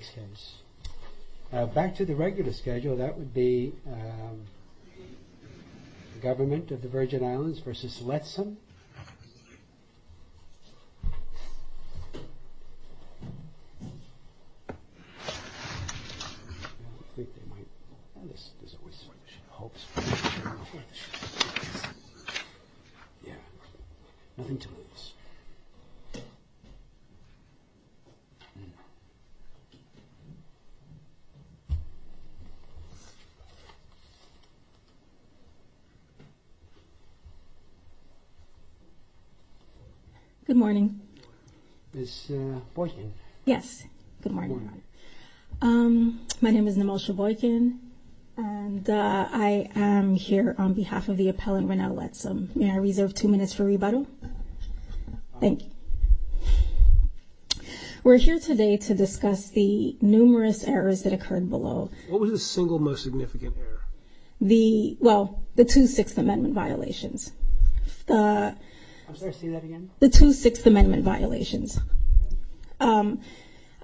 Govt VI v. Lettsome Good morning, my name is Nimesha Boykin, and I am here on behalf of the appellant Ranael Lettsome. May I reserve two minutes for rebuttal? Thank you. We're here today to discuss the numerous errors that occurred below. What was the single most significant error? Well, the two Sixth Amendment violations. I'm sorry, say that again? The two Sixth Amendment violations.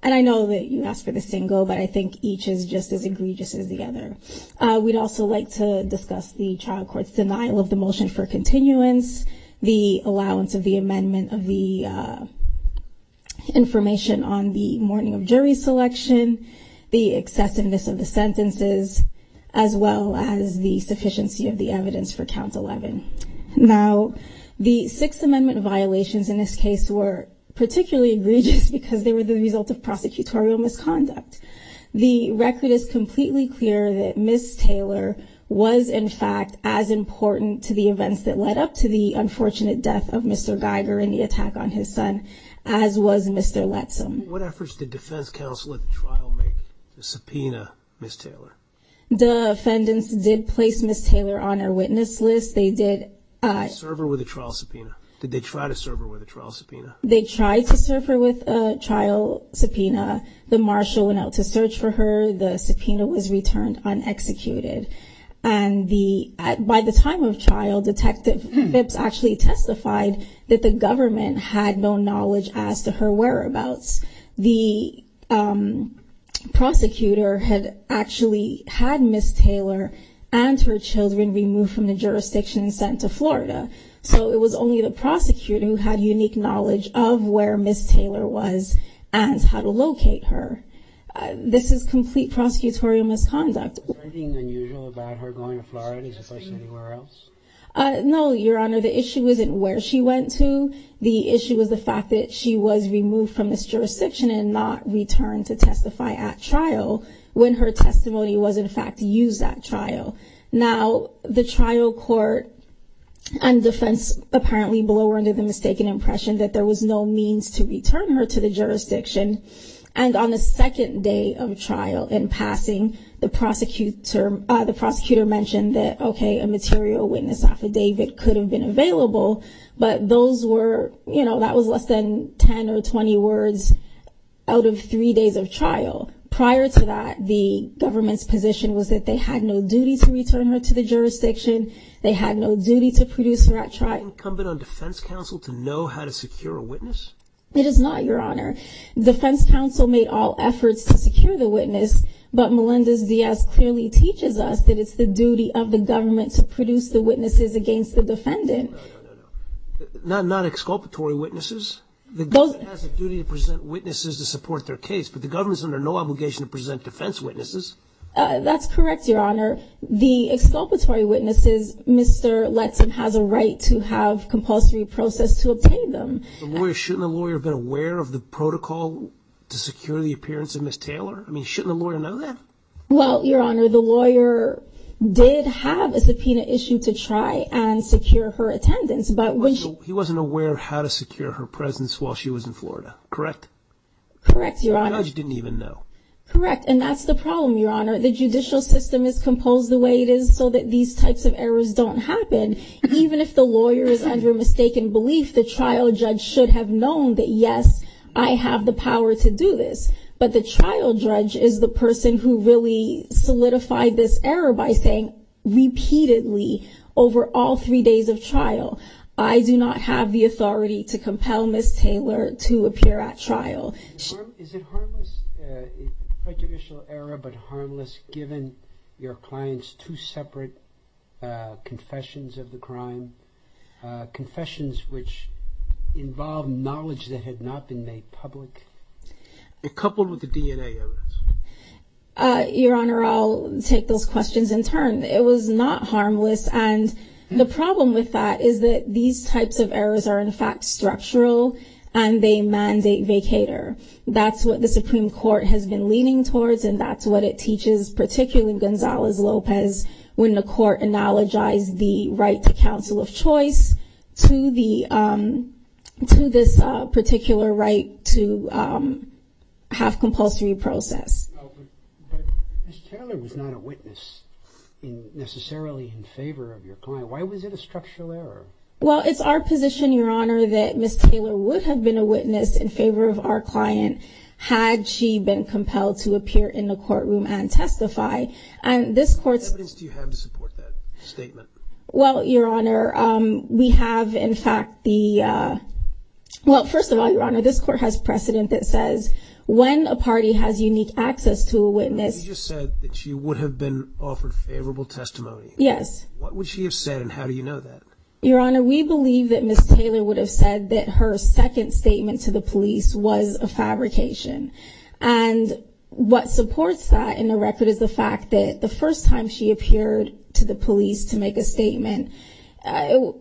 And I know that you asked for the single, but I think each is just as egregious as the other. We'd also like to discuss the trial court's denial of the motion for continuance, the allowance of the amendment of the information on the morning of jury selection, the excessiveness of the sentences, as well as the sufficiency of the evidence for count 11. Now, the Sixth Amendment violations in this case were particularly egregious because they were the result of prosecutorial misconduct. The record is completely clear that Ms. Taylor was, in fact, as important to the events that led up to the unfortunate death of Mr. Geiger in the attack on his son, as was Mr. Lettsome. What efforts did defense counsel at the trial make to subpoena Ms. Taylor? The defendants did place Ms. Taylor on our witness list. They did serve her with a trial subpoena. Did they try to serve her with a trial subpoena? They tried to serve her with a trial subpoena. The marshal went out to search for her. The subpoena was returned unexecuted. And by the time of trial, Detective Phipps actually testified that the government had no knowledge as to her whereabouts. The prosecutor had actually had Ms. Taylor and her children removed from the jurisdiction and sent to Florida. So it was only the prosecutor who had unique knowledge of where Ms. Taylor was and how to locate her. This is complete prosecutorial misconduct. Is there anything unusual about her going to Florida as opposed to anywhere else? No, Your Honor. The issue isn't where she went to. The issue is the fact that she was removed from this jurisdiction and not returned to testify at trial when her testimony was, in fact, used at trial. Now, the trial court and defense apparently blow her into the mistaken impression that there was no means to return her to the jurisdiction. And on the second day of trial in passing, the prosecutor mentioned that, OK, a material witness affidavit could have been available. But those were, you know, that was less than 10 or 20 words out of three days of trial. Prior to that, the government's position was that they had no duty to return her to the jurisdiction. They had no duty to produce her at trial. Is it incumbent on defense counsel to know how to secure a witness? It is not, Your Honor. Defense counsel made all efforts to secure the witness. But Melendez-Diaz clearly teaches us that it's the duty of the government to produce the witnesses against the defendant. No, no, no. Not exculpatory witnesses. The government has a duty to present witnesses to support their case, but the government is under no obligation to present defense witnesses. That's correct, Your Honor. The exculpatory witnesses, Mr. Letson has a right to have compulsory process to obtain them. Shouldn't the lawyer have been aware of the protocol to secure the appearance of Ms. Taylor? I mean, shouldn't the lawyer know that? Well, Your Honor, the lawyer did have a subpoena issue to try and secure her attendance. He wasn't aware of how to secure her presence while she was in Florida, correct? Correct, Your Honor. The judge didn't even know. Correct, and that's the problem, Your Honor. The judicial system is composed the way it is so that these types of errors don't happen. Even if the lawyer is under mistaken belief, the trial judge should have known that, yes, I have the power to do this. But the trial judge is the person who really solidified this error by saying repeatedly over all three days of trial, I do not have the authority to compel Ms. Taylor to appear at trial. Is it harmless, a prejudicial error, but harmless given your client's two separate confessions of the crime, confessions which involve knowledge that had not been made public? And coupled with the DNA errors. Your Honor, I'll take those questions in turn. It was not harmless, and the problem with that is that these types of errors are, in fact, structural, and they mandate vacater. That's what the Supreme Court has been leaning towards, and that's what it teaches, particularly Gonzalez-Lopez, when the court analogized the right to counsel of choice to this particular right to have compulsory process. But Ms. Taylor was not a witness necessarily in favor of your client. Why was it a structural error? Well, it's our position, Your Honor, that Ms. Taylor would have been a witness in favor of our client had she been compelled to appear in the courtroom and testify. What evidence do you have to support that statement? Well, Your Honor, we have, in fact, the – well, first of all, Your Honor, this court has precedent that says when a party has unique access to a witness – You just said that she would have been offered favorable testimony. Yes. What would she have said, and how do you know that? Your Honor, we believe that Ms. Taylor would have said that her second statement to the police was a fabrication. And what supports that in the record is the fact that the first time she appeared to the police to make a statement,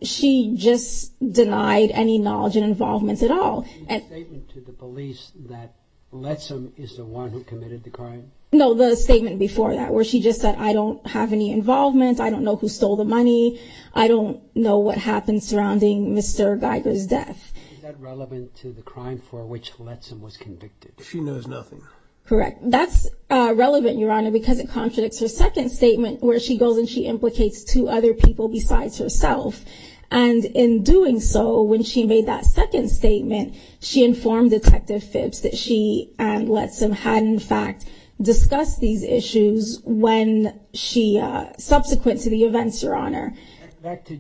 she just denied any knowledge and involvement at all. The statement to the police that Letsom is the one who committed the crime? No, the statement before that, where she just said, I don't have any involvement, I don't know who stole the money, I don't know what happened surrounding Mr. Geiger's death. Is that relevant to the crime for which Letsom was convicted? She knows nothing. Correct. That's relevant, Your Honor, because it contradicts her second statement, where she goes and she implicates two other people besides herself. And in doing so, when she made that second statement, she informed Detective Phipps that she and Letsom had, in fact, discussed these issues when she, subsequent to the events, Your Honor. Back to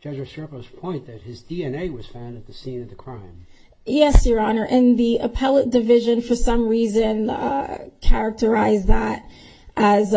Judge Osorio's point that his DNA was found at the scene of the crime. Yes, Your Honor, and the appellate division, for some reason, characterized that as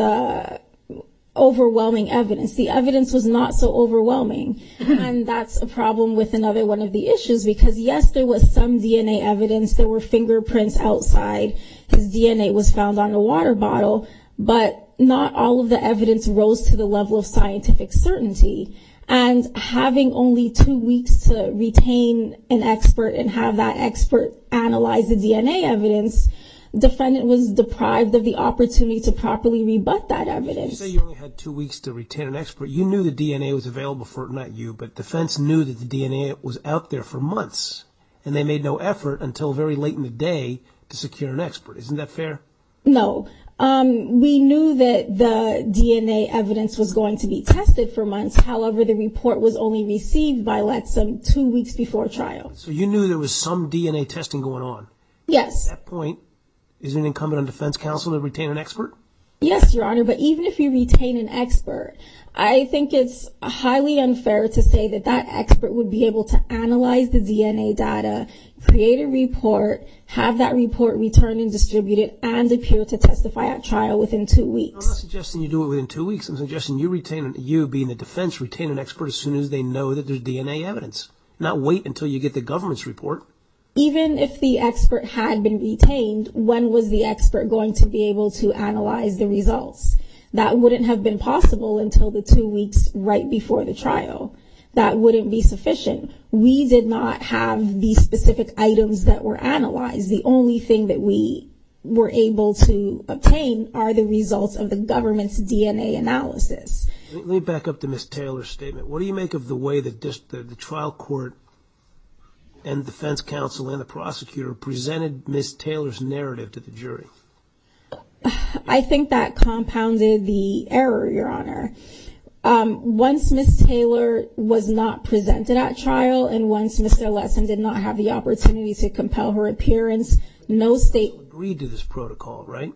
overwhelming evidence. The evidence was not so overwhelming, and that's a problem with another one of the issues, because, yes, there was some DNA evidence. There were fingerprints outside. His DNA was found on a water bottle, but not all of the evidence rose to the level of scientific certainty. And having only two weeks to retain an expert and have that expert analyze the DNA evidence, the defendant was deprived of the opportunity to properly rebut that evidence. You say you only had two weeks to retain an expert. You knew the DNA was available for it, not you, but defense knew that the DNA was out there for months, and they made no effort until very late in the day to secure an expert. Isn't that fair? No. We knew that the DNA evidence was going to be tested for months. However, the report was only received by Letsom two weeks before trial. So you knew there was some DNA testing going on. Yes. At that point, is it incumbent on defense counsel to retain an expert? Yes, Your Honor, but even if you retain an expert, I think it's highly unfair to say that that expert would be able to analyze the DNA data, create a report, have that report returned and distributed, and appear to testify at trial within two weeks. I'm not suggesting you do it within two weeks. I'm suggesting you, being the defense, retain an expert as soon as they know that there's DNA evidence, not wait until you get the government's report. Even if the expert had been retained, when was the expert going to be able to analyze the results? That wouldn't have been possible until the two weeks right before the trial. That wouldn't be sufficient. We did not have the specific items that were analyzed. The only thing that we were able to obtain are the results of the government's DNA analysis. Let me back up to Ms. Taylor's statement. What do you make of the way that the trial court and defense counsel and the prosecutor presented Ms. Taylor's narrative to the jury? I think that compounded the error, Your Honor. Once Ms. Taylor was not presented at trial and once Mr. Lessin did not have the opportunity to compel her appearance, no state agreed to this protocol, right?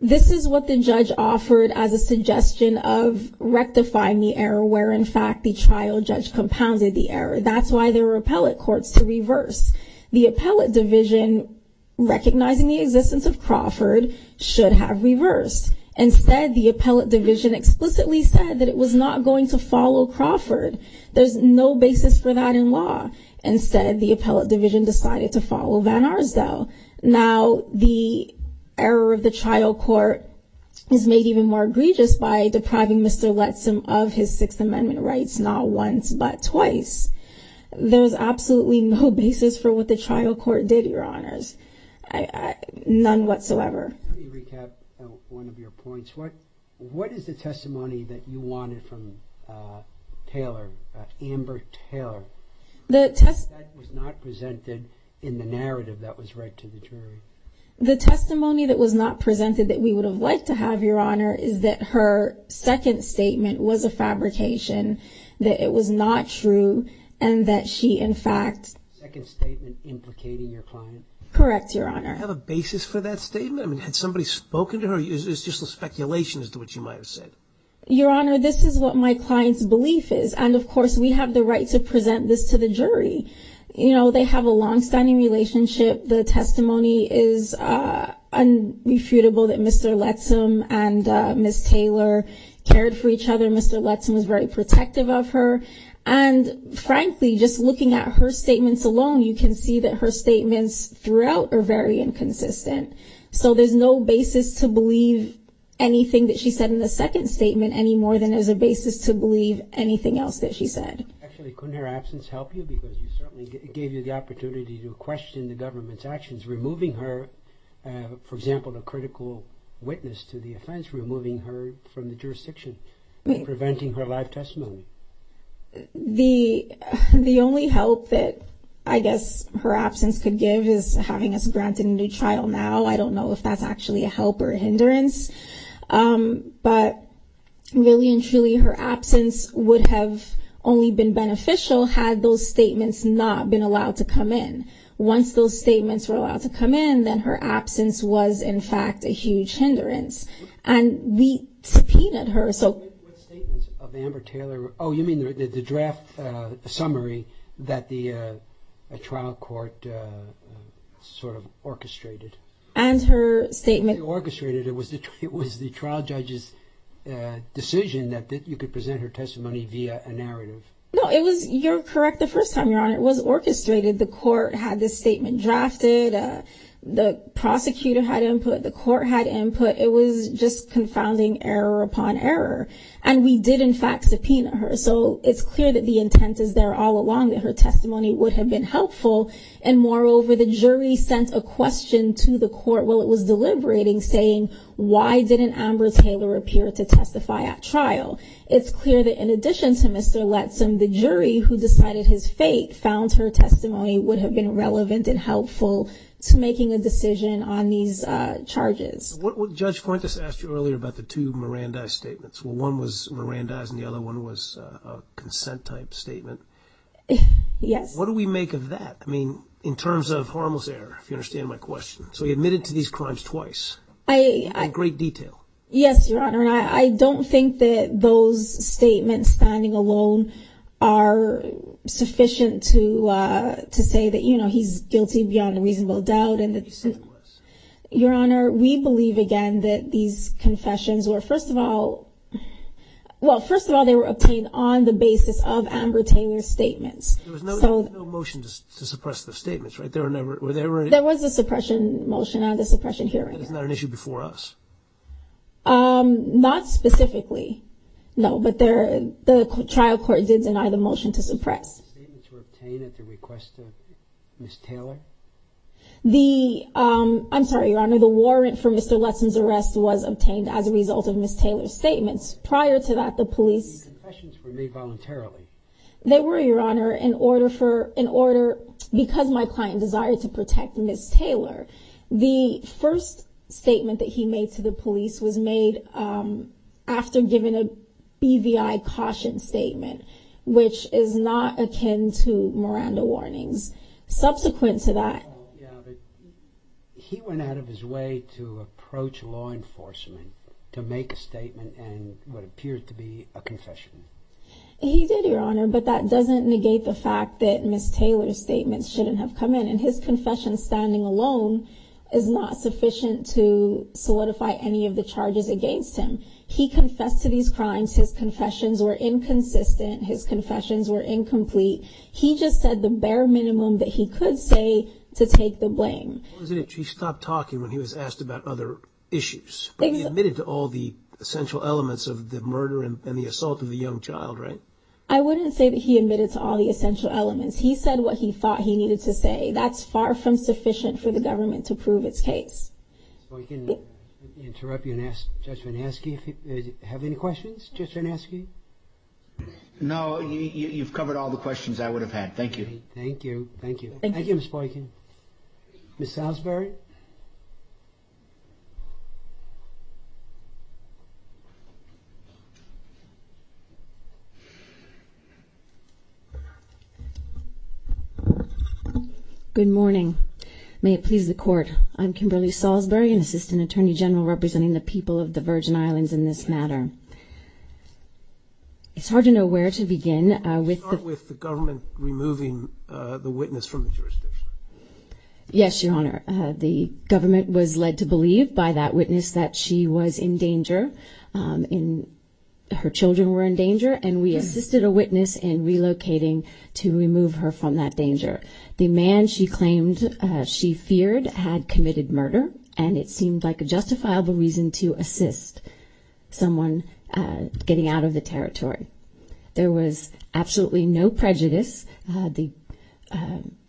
This is what the judge offered as a suggestion of rectifying the error where, in fact, the trial judge compounded the error. That's why there were appellate courts to reverse. The appellate division, recognizing the existence of Crawford, should have reversed. Instead, the appellate division explicitly said that it was not going to follow Crawford. There's no basis for that in law. Instead, the appellate division decided to follow Van Arsdale. Now, the error of the trial court is made even more egregious by depriving Mr. Lessin of his Sixth Amendment rights not once but twice. There's absolutely no basis for what the trial court did, Your Honors. None whatsoever. Let me recap one of your points. What is the testimony that you wanted from Taylor, Amber Taylor? That was not presented in the narrative that was read to the jury. The testimony that was not presented that we would have liked to have, Your Honor, is that her second statement was a fabrication, that it was not true, and that she, in fact... Second statement implicating your client? Correct, Your Honor. Do you have a basis for that statement? I mean, had somebody spoken to her? It's just a speculation as to what she might have said. Your Honor, this is what my client's belief is. And, of course, we have the right to present this to the jury. You know, they have a longstanding relationship. The testimony is unrefutable that Mr. Lessin and Ms. Taylor cared for each other. Mr. Lessin was very protective of her. And, frankly, just looking at her statements alone, you can see that her statements throughout are very inconsistent. So there's no basis to believe anything that she said in the second statement any more than there's a basis to believe anything else that she said. Actually, couldn't her absence help you? Because it certainly gave you the opportunity to question the government's actions, removing her, for example, a critical witness to the offense, removing her from the jurisdiction, preventing her live testimony. The only help that I guess her absence could give is having us granted a new trial now. I don't know if that's actually a help or a hindrance. But really and truly, her absence would have only been beneficial had those statements not been allowed to come in. Once those statements were allowed to come in, then her absence was, in fact, a huge hindrance. And we subpoenaed her. What statements of Amber Taylor? Oh, you mean the draft summary that the trial court sort of orchestrated? And her statement. It wasn't orchestrated. It was the trial judge's decision that you could present her testimony via a narrative. No, you're correct the first time, Your Honor. It was orchestrated. The court had this statement drafted. The prosecutor had input. The court had input. It was just confounding error upon error. And we did, in fact, subpoena her. So it's clear that the intent is there all along, that her testimony would have been helpful. And moreover, the jury sent a question to the court while it was deliberating saying, why didn't Amber Taylor appear to testify at trial? It's clear that in addition to Mr. Letson, the jury who decided his fate found her testimony would have been relevant and helpful to making a decision on these charges. Judge Fuentes asked you earlier about the two Mirandais statements. Well, one was Mirandais and the other one was a consent type statement. Yes. What do we make of that? I mean, in terms of harmless error, if you understand my question. So he admitted to these crimes twice in great detail. Yes, Your Honor. And I don't think that those statements standing alone are sufficient to say that, you know, he's guilty beyond a reasonable doubt. Your Honor, we believe, again, that these confessions were, first of all, well, first of all, they were obtained on the basis of Amber Taylor's statements. There was no motion to suppress the statements, right? There was a suppression motion and a suppression hearing. That is not an issue before us. Not specifically, no. But the trial court did deny the motion to suppress. The statements were obtained at the request of Ms. Taylor? The, I'm sorry, Your Honor, the warrant for Mr. Lutzen's arrest was obtained as a result of Ms. Taylor's statements. Prior to that, the police. The confessions were made voluntarily. They were, Your Honor, in order for, in order because my client desired to protect Ms. Taylor. The first statement that he made to the police was made after giving a BVI caution statement, which is not akin to Miranda warnings. Subsequent to that. He went out of his way to approach law enforcement to make a statement and what appeared to be a confession. He did, Your Honor, but that doesn't negate the fact that Ms. Taylor's statements shouldn't have come in. And his confession standing alone is not sufficient to solidify any of the charges against him. He confessed to these crimes. His confessions were inconsistent. His confessions were incomplete. He just said the bare minimum that he could say to take the blame. He stopped talking when he was asked about other issues. He admitted to all the essential elements of the murder and the assault of the young child, right? I wouldn't say that he admitted to all the essential elements. He said what he thought he needed to say. That's far from sufficient for the government to prove its case. If I can interrupt you and ask Judge Van Aske if you have any questions, Judge Van Aske? No, you've covered all the questions I would have had. Thank you. Thank you. Thank you. Thank you, Ms. Boykin. Ms. Salisbury? Good morning. May it please the Court. I'm Kimberly Salisbury, an Assistant Attorney General representing the people of the Virgin Islands in this matter. It's hard to know where to begin. Start with the government removing the witness from the jurisdiction. Yes, Your Honor. The government was led to believe by that witness that she was in danger, her children were in danger, and we assisted a witness in relocating to remove her from that danger. The man she claimed she feared had committed murder, and it seemed like a justifiable reason to assist someone getting out of the territory. There was absolutely no prejudice. The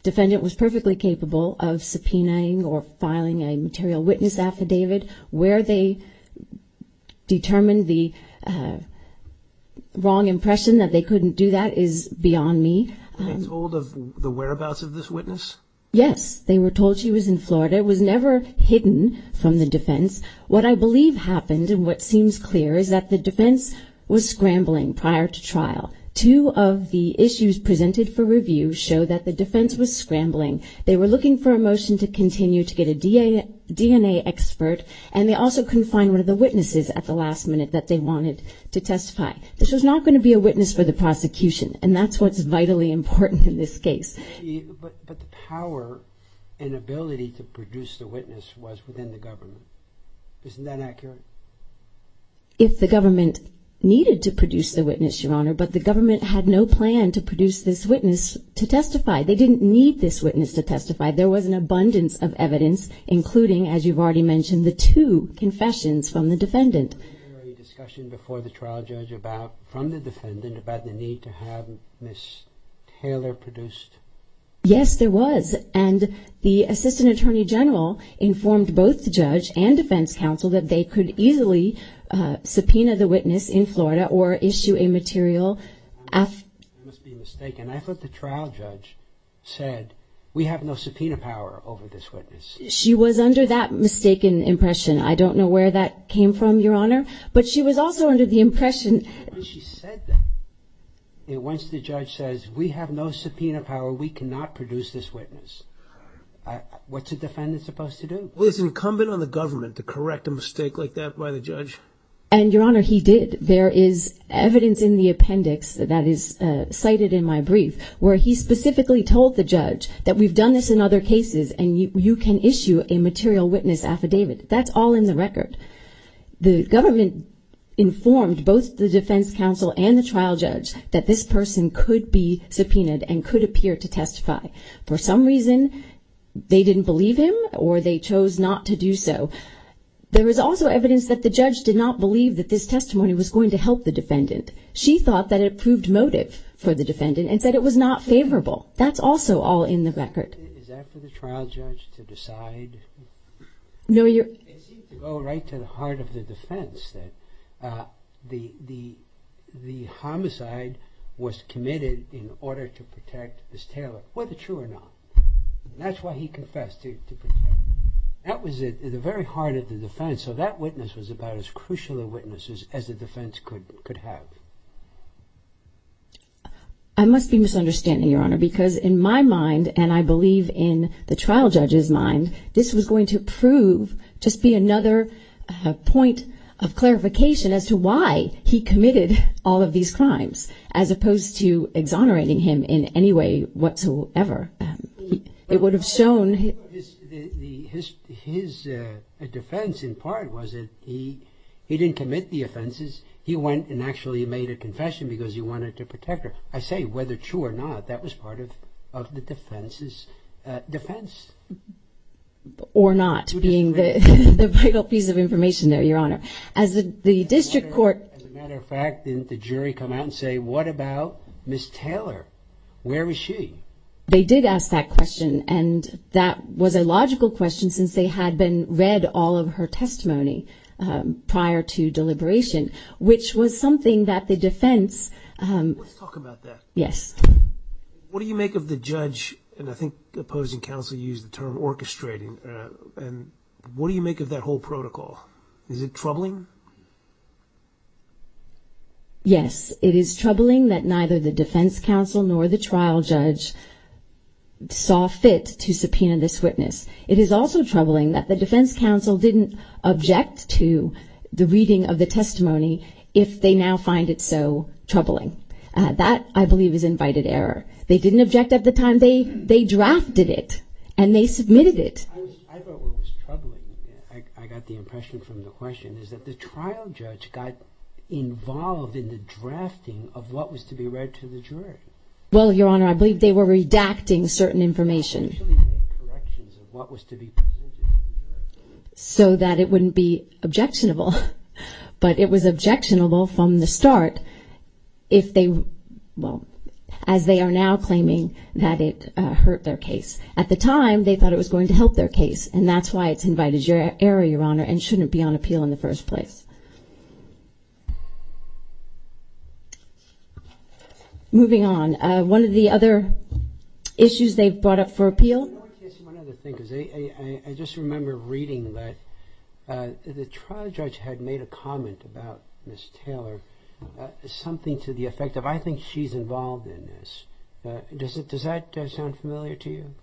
defendant was perfectly capable of subpoenaing or filing a material witness affidavit. Where they determined the wrong impression that they couldn't do that is beyond me. Were they told of the whereabouts of this witness? Yes, they were told she was in Florida. It was never hidden from the defense. What I believe happened, and what seems clear, is that the defense was scrambling prior to trial. Two of the issues presented for review show that the defense was scrambling. They were looking for a motion to continue to get a DNA expert, and they also couldn't find one of the witnesses at the last minute that they wanted to testify. This was not going to be a witness for the prosecution, and that's what's vitally important in this case. But the power and ability to produce the witness was within the government. Isn't that accurate? If the government needed to produce the witness, Your Honor, but the government had no plan to produce this witness to testify. They didn't need this witness to testify. There was an abundance of evidence, including, as you've already mentioned, the two confessions from the defendant. Was there any discussion before the trial judge from the defendant about the need to have Ms. Taylor produced? Yes, there was. And the assistant attorney general informed both the judge and defense counsel that they could easily subpoena the witness in Florida or issue a material. I must be mistaken. I thought the trial judge said, we have no subpoena power over this witness. She was under that mistaken impression. I don't know where that came from, Your Honor, but she was also under the impression. She said that. Once the judge says, we have no subpoena power, we cannot produce this witness. What's a defendant supposed to do? Well, it's incumbent on the government to correct a mistake like that by the judge. And, Your Honor, he did. There is evidence in the appendix that is cited in my brief where he specifically told the judge that we've done this in other cases and you can issue a material witness affidavit. That's all in the record. The government informed both the defense counsel and the trial judge that this person could be subpoenaed and could appear to testify. For some reason, they didn't believe him or they chose not to do so. There is also evidence that the judge did not believe that this testimony was going to help the defendant. She thought that it proved motive for the defendant and said it was not favorable. That's also all in the record. Is that for the trial judge to decide? No, Your Honor. It seems to go right to the heart of the defense that the homicide was committed in order to protect Ms. Taylor, whether true or not. That's why he confessed to protect her. That was at the very heart of the defense, so that witness was about as crucial a witness as the defense could have. I must be misunderstanding, Your Honor, because in my mind and I believe in the trial judge's mind, this was going to prove, just be another point of clarification as to why he committed all of these crimes as opposed to exonerating him in any way whatsoever. It would have shown... His defense in part was that he didn't commit the offenses. He went and actually made a confession because he wanted to protect her. I say whether true or not, that was part of the defense's defense. Or not, being the vital piece of information there, Your Honor. As the district court... As a matter of fact, didn't the jury come out and say, what about Ms. Taylor? Where is she? They did ask that question, and that was a logical question since they had been read all of her testimony prior to deliberation, which was something that the defense... Let's talk about that. Yes. What do you make of the judge, and I think the opposing counsel used the term orchestrating, and what do you make of that whole protocol? Is it troubling? Yes. It is troubling that neither the defense counsel nor the trial judge saw fit to subpoena this witness. It is also troubling that the defense counsel didn't object to the reading of the testimony if they now find it so troubling. That, I believe, is invited error. They didn't object at the time. They drafted it, and they submitted it. I thought what was troubling, I got the impression from the question, is that the trial judge got involved in the drafting of what was to be read to the jury. Well, Your Honor, I believe they were redacting certain information. They actually made corrections of what was to be presented to the jury. So that it wouldn't be objectionable. But it was objectionable from the start. If they, well, as they are now claiming that it hurt their case. At the time, they thought it was going to help their case, and that's why it's invited error, Your Honor, and shouldn't be on appeal in the first place. Moving on. One of the other issues they brought up for appeal. One other thing, because I just remember reading that the trial judge had made a comment about Ms. Taylor. Something to the effect of, I think she's involved in this. Does that sound familiar to you?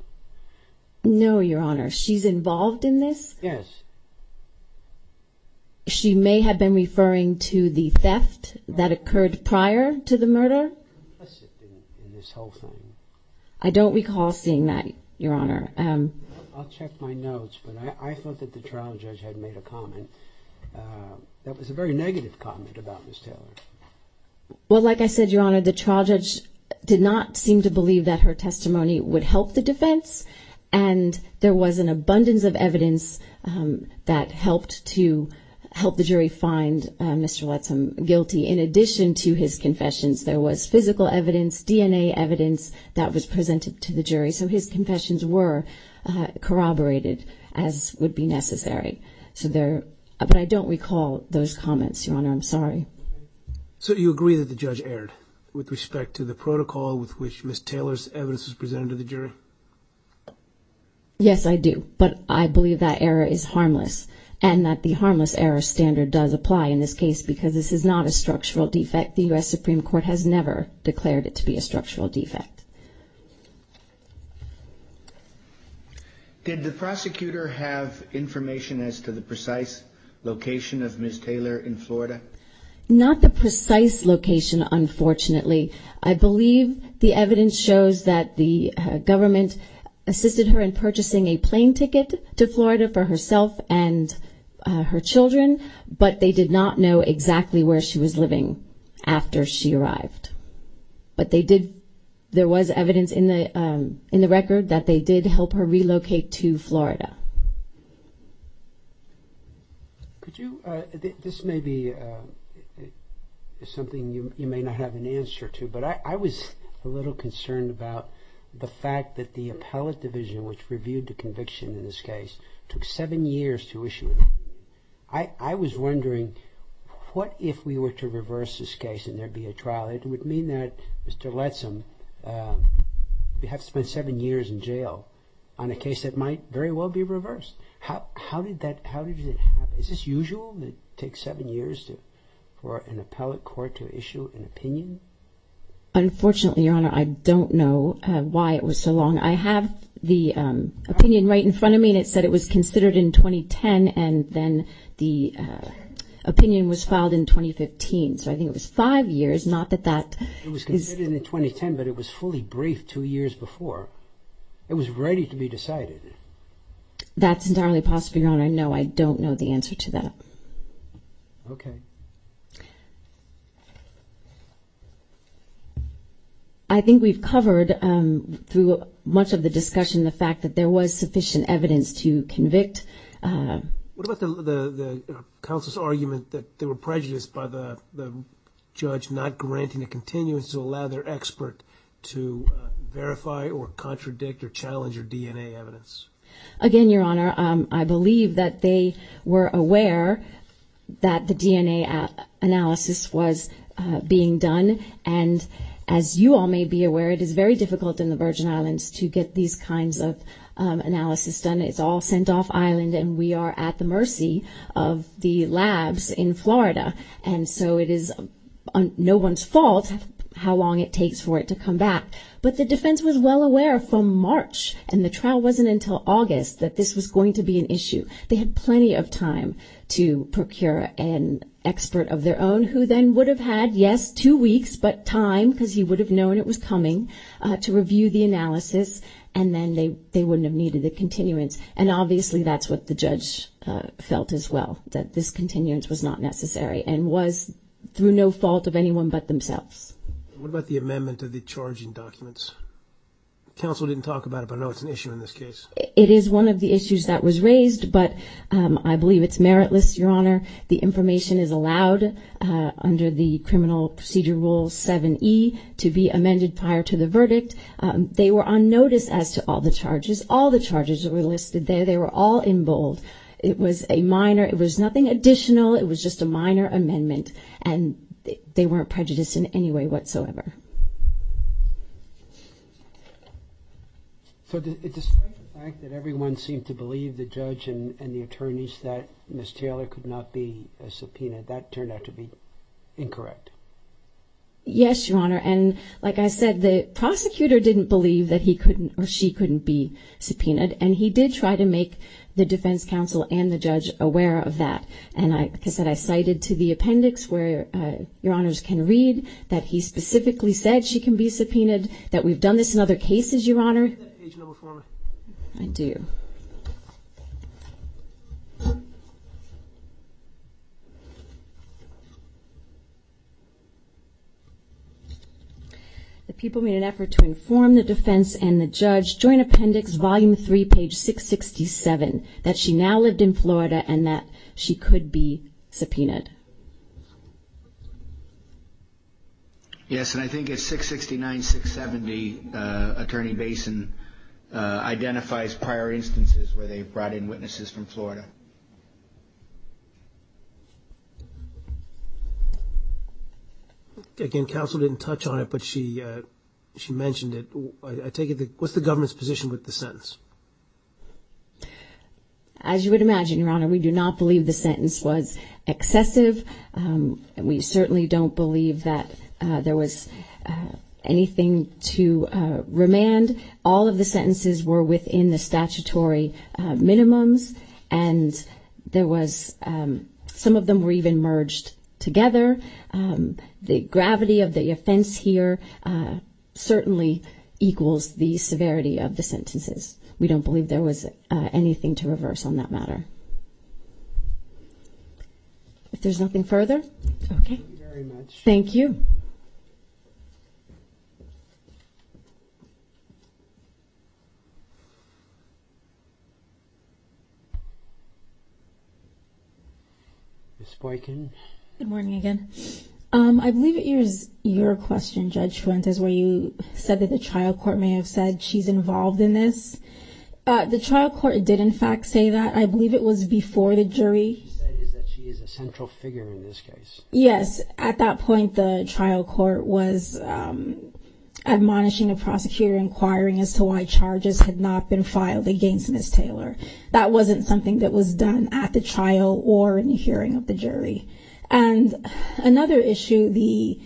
No, Your Honor. She's involved in this? Yes. She may have been referring to the theft that occurred prior to the murder? In this whole thing. I don't recall seeing that, Your Honor. That was a very negative comment about Ms. Taylor. Well, like I said, Your Honor, the trial judge did not seem to believe that her testimony would help the defense. And there was an abundance of evidence that helped to help the jury find Mr. Lettsam guilty. In addition to his confessions, there was physical evidence, DNA evidence that was presented to the jury. So his confessions were corroborated, as would be necessary. But I don't recall those comments, Your Honor. I'm sorry. So you agree that the judge erred with respect to the protocol with which Ms. Taylor's evidence was presented to the jury? Yes, I do. But I believe that error is harmless. And that the harmless error standard does apply in this case because this is not a structural defect. The U.S. Supreme Court has never declared it to be a structural defect. Did the prosecutor have information as to the precise location of Ms. Taylor in Florida? Not the precise location, unfortunately. I believe the evidence shows that the government assisted her in purchasing a plane ticket to Florida for herself and her children, but they did not know exactly where she was living after she arrived. But they did, there was evidence in the record that they did help her relocate to Florida. Could you, this may be something you may not have an answer to, but I was a little concerned about the fact that the Appellate Division, which reviewed the conviction in this case, took seven years to issue it. I was wondering, what if we were to reverse this case and there'd be a trial? It would mean that Mr. Lettsam would have to spend seven years in jail on a case that might very well be reversed. How did that happen? Is this usual that it takes seven years for an appellate court to issue an opinion? Unfortunately, Your Honor, I don't know why it was so long. I have the opinion right in front of me, and it said it was considered in 2010, and then the opinion was filed in 2015. So I think it was five years, not that that is... It was considered in 2010, but it was fully briefed two years before. It was ready to be decided. That's entirely possible, Your Honor. No, I don't know the answer to that. Okay. I think we've covered, through much of the discussion, the fact that there was sufficient evidence to convict. What about the counsel's argument that they were prejudiced by the judge not granting a continuance to allow their expert to verify or contradict or challenge your DNA evidence? Again, Your Honor, I believe that they were aware that the DNA analysis was being done, and as you all may be aware, it is very difficult in the Virgin Islands to get these kinds of analysis done. It's all sent off island, and we are at the mercy of the labs in Florida. And so it is no one's fault how long it takes for it to come back. But the defense was well aware from March, and the trial wasn't until August, that this was going to be an issue. They had plenty of time to procure an expert of their own, who then would have had, yes, two weeks, but time, because he would have known it was coming, to review the analysis, and then they wouldn't have needed a continuance. And obviously that's what the judge felt as well, that this continuance was not necessary and was through no fault of anyone but themselves. What about the amendment of the charging documents? Counsel didn't talk about it, but I know it's an issue in this case. It is one of the issues that was raised, but I believe it's meritless, Your Honor. The information is allowed under the Criminal Procedure Rule 7E to be amended prior to the verdict. They were on notice as to all the charges. All the charges that were listed there, they were all in bold. It was a minor, it was nothing additional, it was just a minor amendment, and they weren't prejudiced in any way whatsoever. So despite the fact that everyone seemed to believe, the judge and the attorneys, that Ms. Taylor could not be subpoenaed, that turned out to be incorrect. Yes, Your Honor. And like I said, the prosecutor didn't believe that he couldn't or she couldn't be subpoenaed, and he did try to make the defense counsel and the judge aware of that. And like I said, I cited to the appendix where Your Honors can read that he specifically said she can be subpoenaed, that we've done this in other cases, Your Honor. Do you have that page number for me? I do. The people made an effort to inform the defense and the judge during appendix volume 3, page 667, that she now lived in Florida and that she could be subpoenaed. Yes, and I think it's 669-670, Attorney Basin identifies prior instances where they've brought in witnesses from Florida. Again, counsel didn't touch on it, but she mentioned it. What's the government's position with the sentence? As you would imagine, Your Honor, we do not believe the sentence was excessive. We certainly don't believe that there was anything to remand. All of the sentences were within the statutory minimums, and some of them were even merged together. The gravity of the offense here certainly equals the severity of the sentences. We don't believe there was anything to reverse on that matter. If there's nothing further, okay. Thank you very much. Thank you. Ms. Boykin. Good morning again. I believe it is your question, Judge Fuentes, where you said that the trial court may have said she's involved in this. The trial court did, in fact, say that. I believe it was before the jury. What she said is that she is a central figure in this case. Yes. At that point, the trial court was admonishing a prosecutor, inquiring as to why charges had not been filed against Ms. Taylor. That wasn't something that was done at the trial or in the hearing of the jury. And another issue the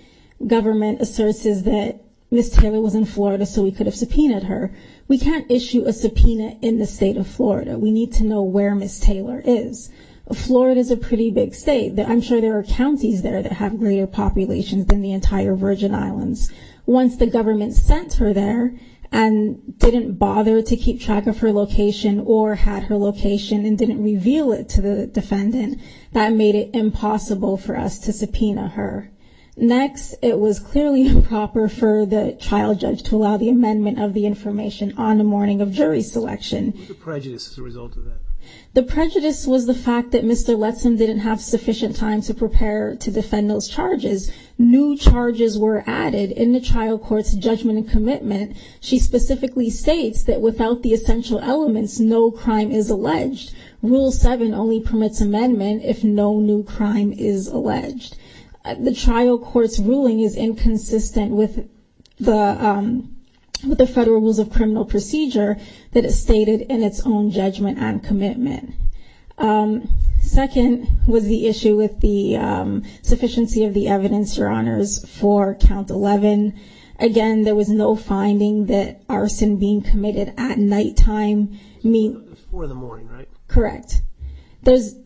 government asserts is that Ms. Taylor was in Florida, so we could have subpoenaed her. We can't issue a subpoena in the state of Florida. We need to know where Ms. Taylor is. Florida is a pretty big state. I'm sure there are counties there that have greater populations than the entire Virgin Islands. Once the government sent her there and didn't bother to keep track of her location or had her location and didn't reveal it to the defendant, that made it impossible for us to subpoena her. Next, it was clearly improper for the trial judge to allow the amendment of the information on the morning of jury selection. What was the prejudice as a result of that? The prejudice was the fact that Mr. Letson didn't have sufficient time to prepare to defend those charges. New charges were added in the trial court's judgment and commitment. She specifically states that without the essential elements, no crime is alleged. Rule 7 only permits amendment if no new crime is alleged. The trial court's ruling is inconsistent with the Federal Rules of Criminal Procedure that is stated in its own judgment and commitment. Second was the issue with the sufficiency of the evidence, Your Honors, for count 11. Again, there was no finding that arson being committed at nighttime means... It was 4 in the morning, right? Correct. There's...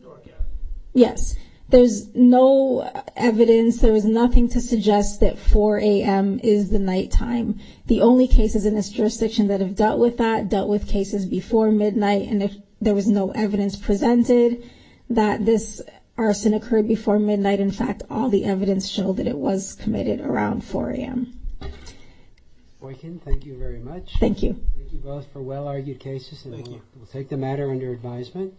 Yes. There's no evidence. There was nothing to suggest that 4 a.m. is the nighttime. The only cases in this jurisdiction that have dealt with that dealt with cases before midnight, and there was no evidence presented that this arson occurred before midnight. In fact, all the evidence showed that it was committed around 4 a.m. Boykin, thank you very much. Thank you. Thank you both for well-argued cases. Thank you. We'll take the matter under advisement.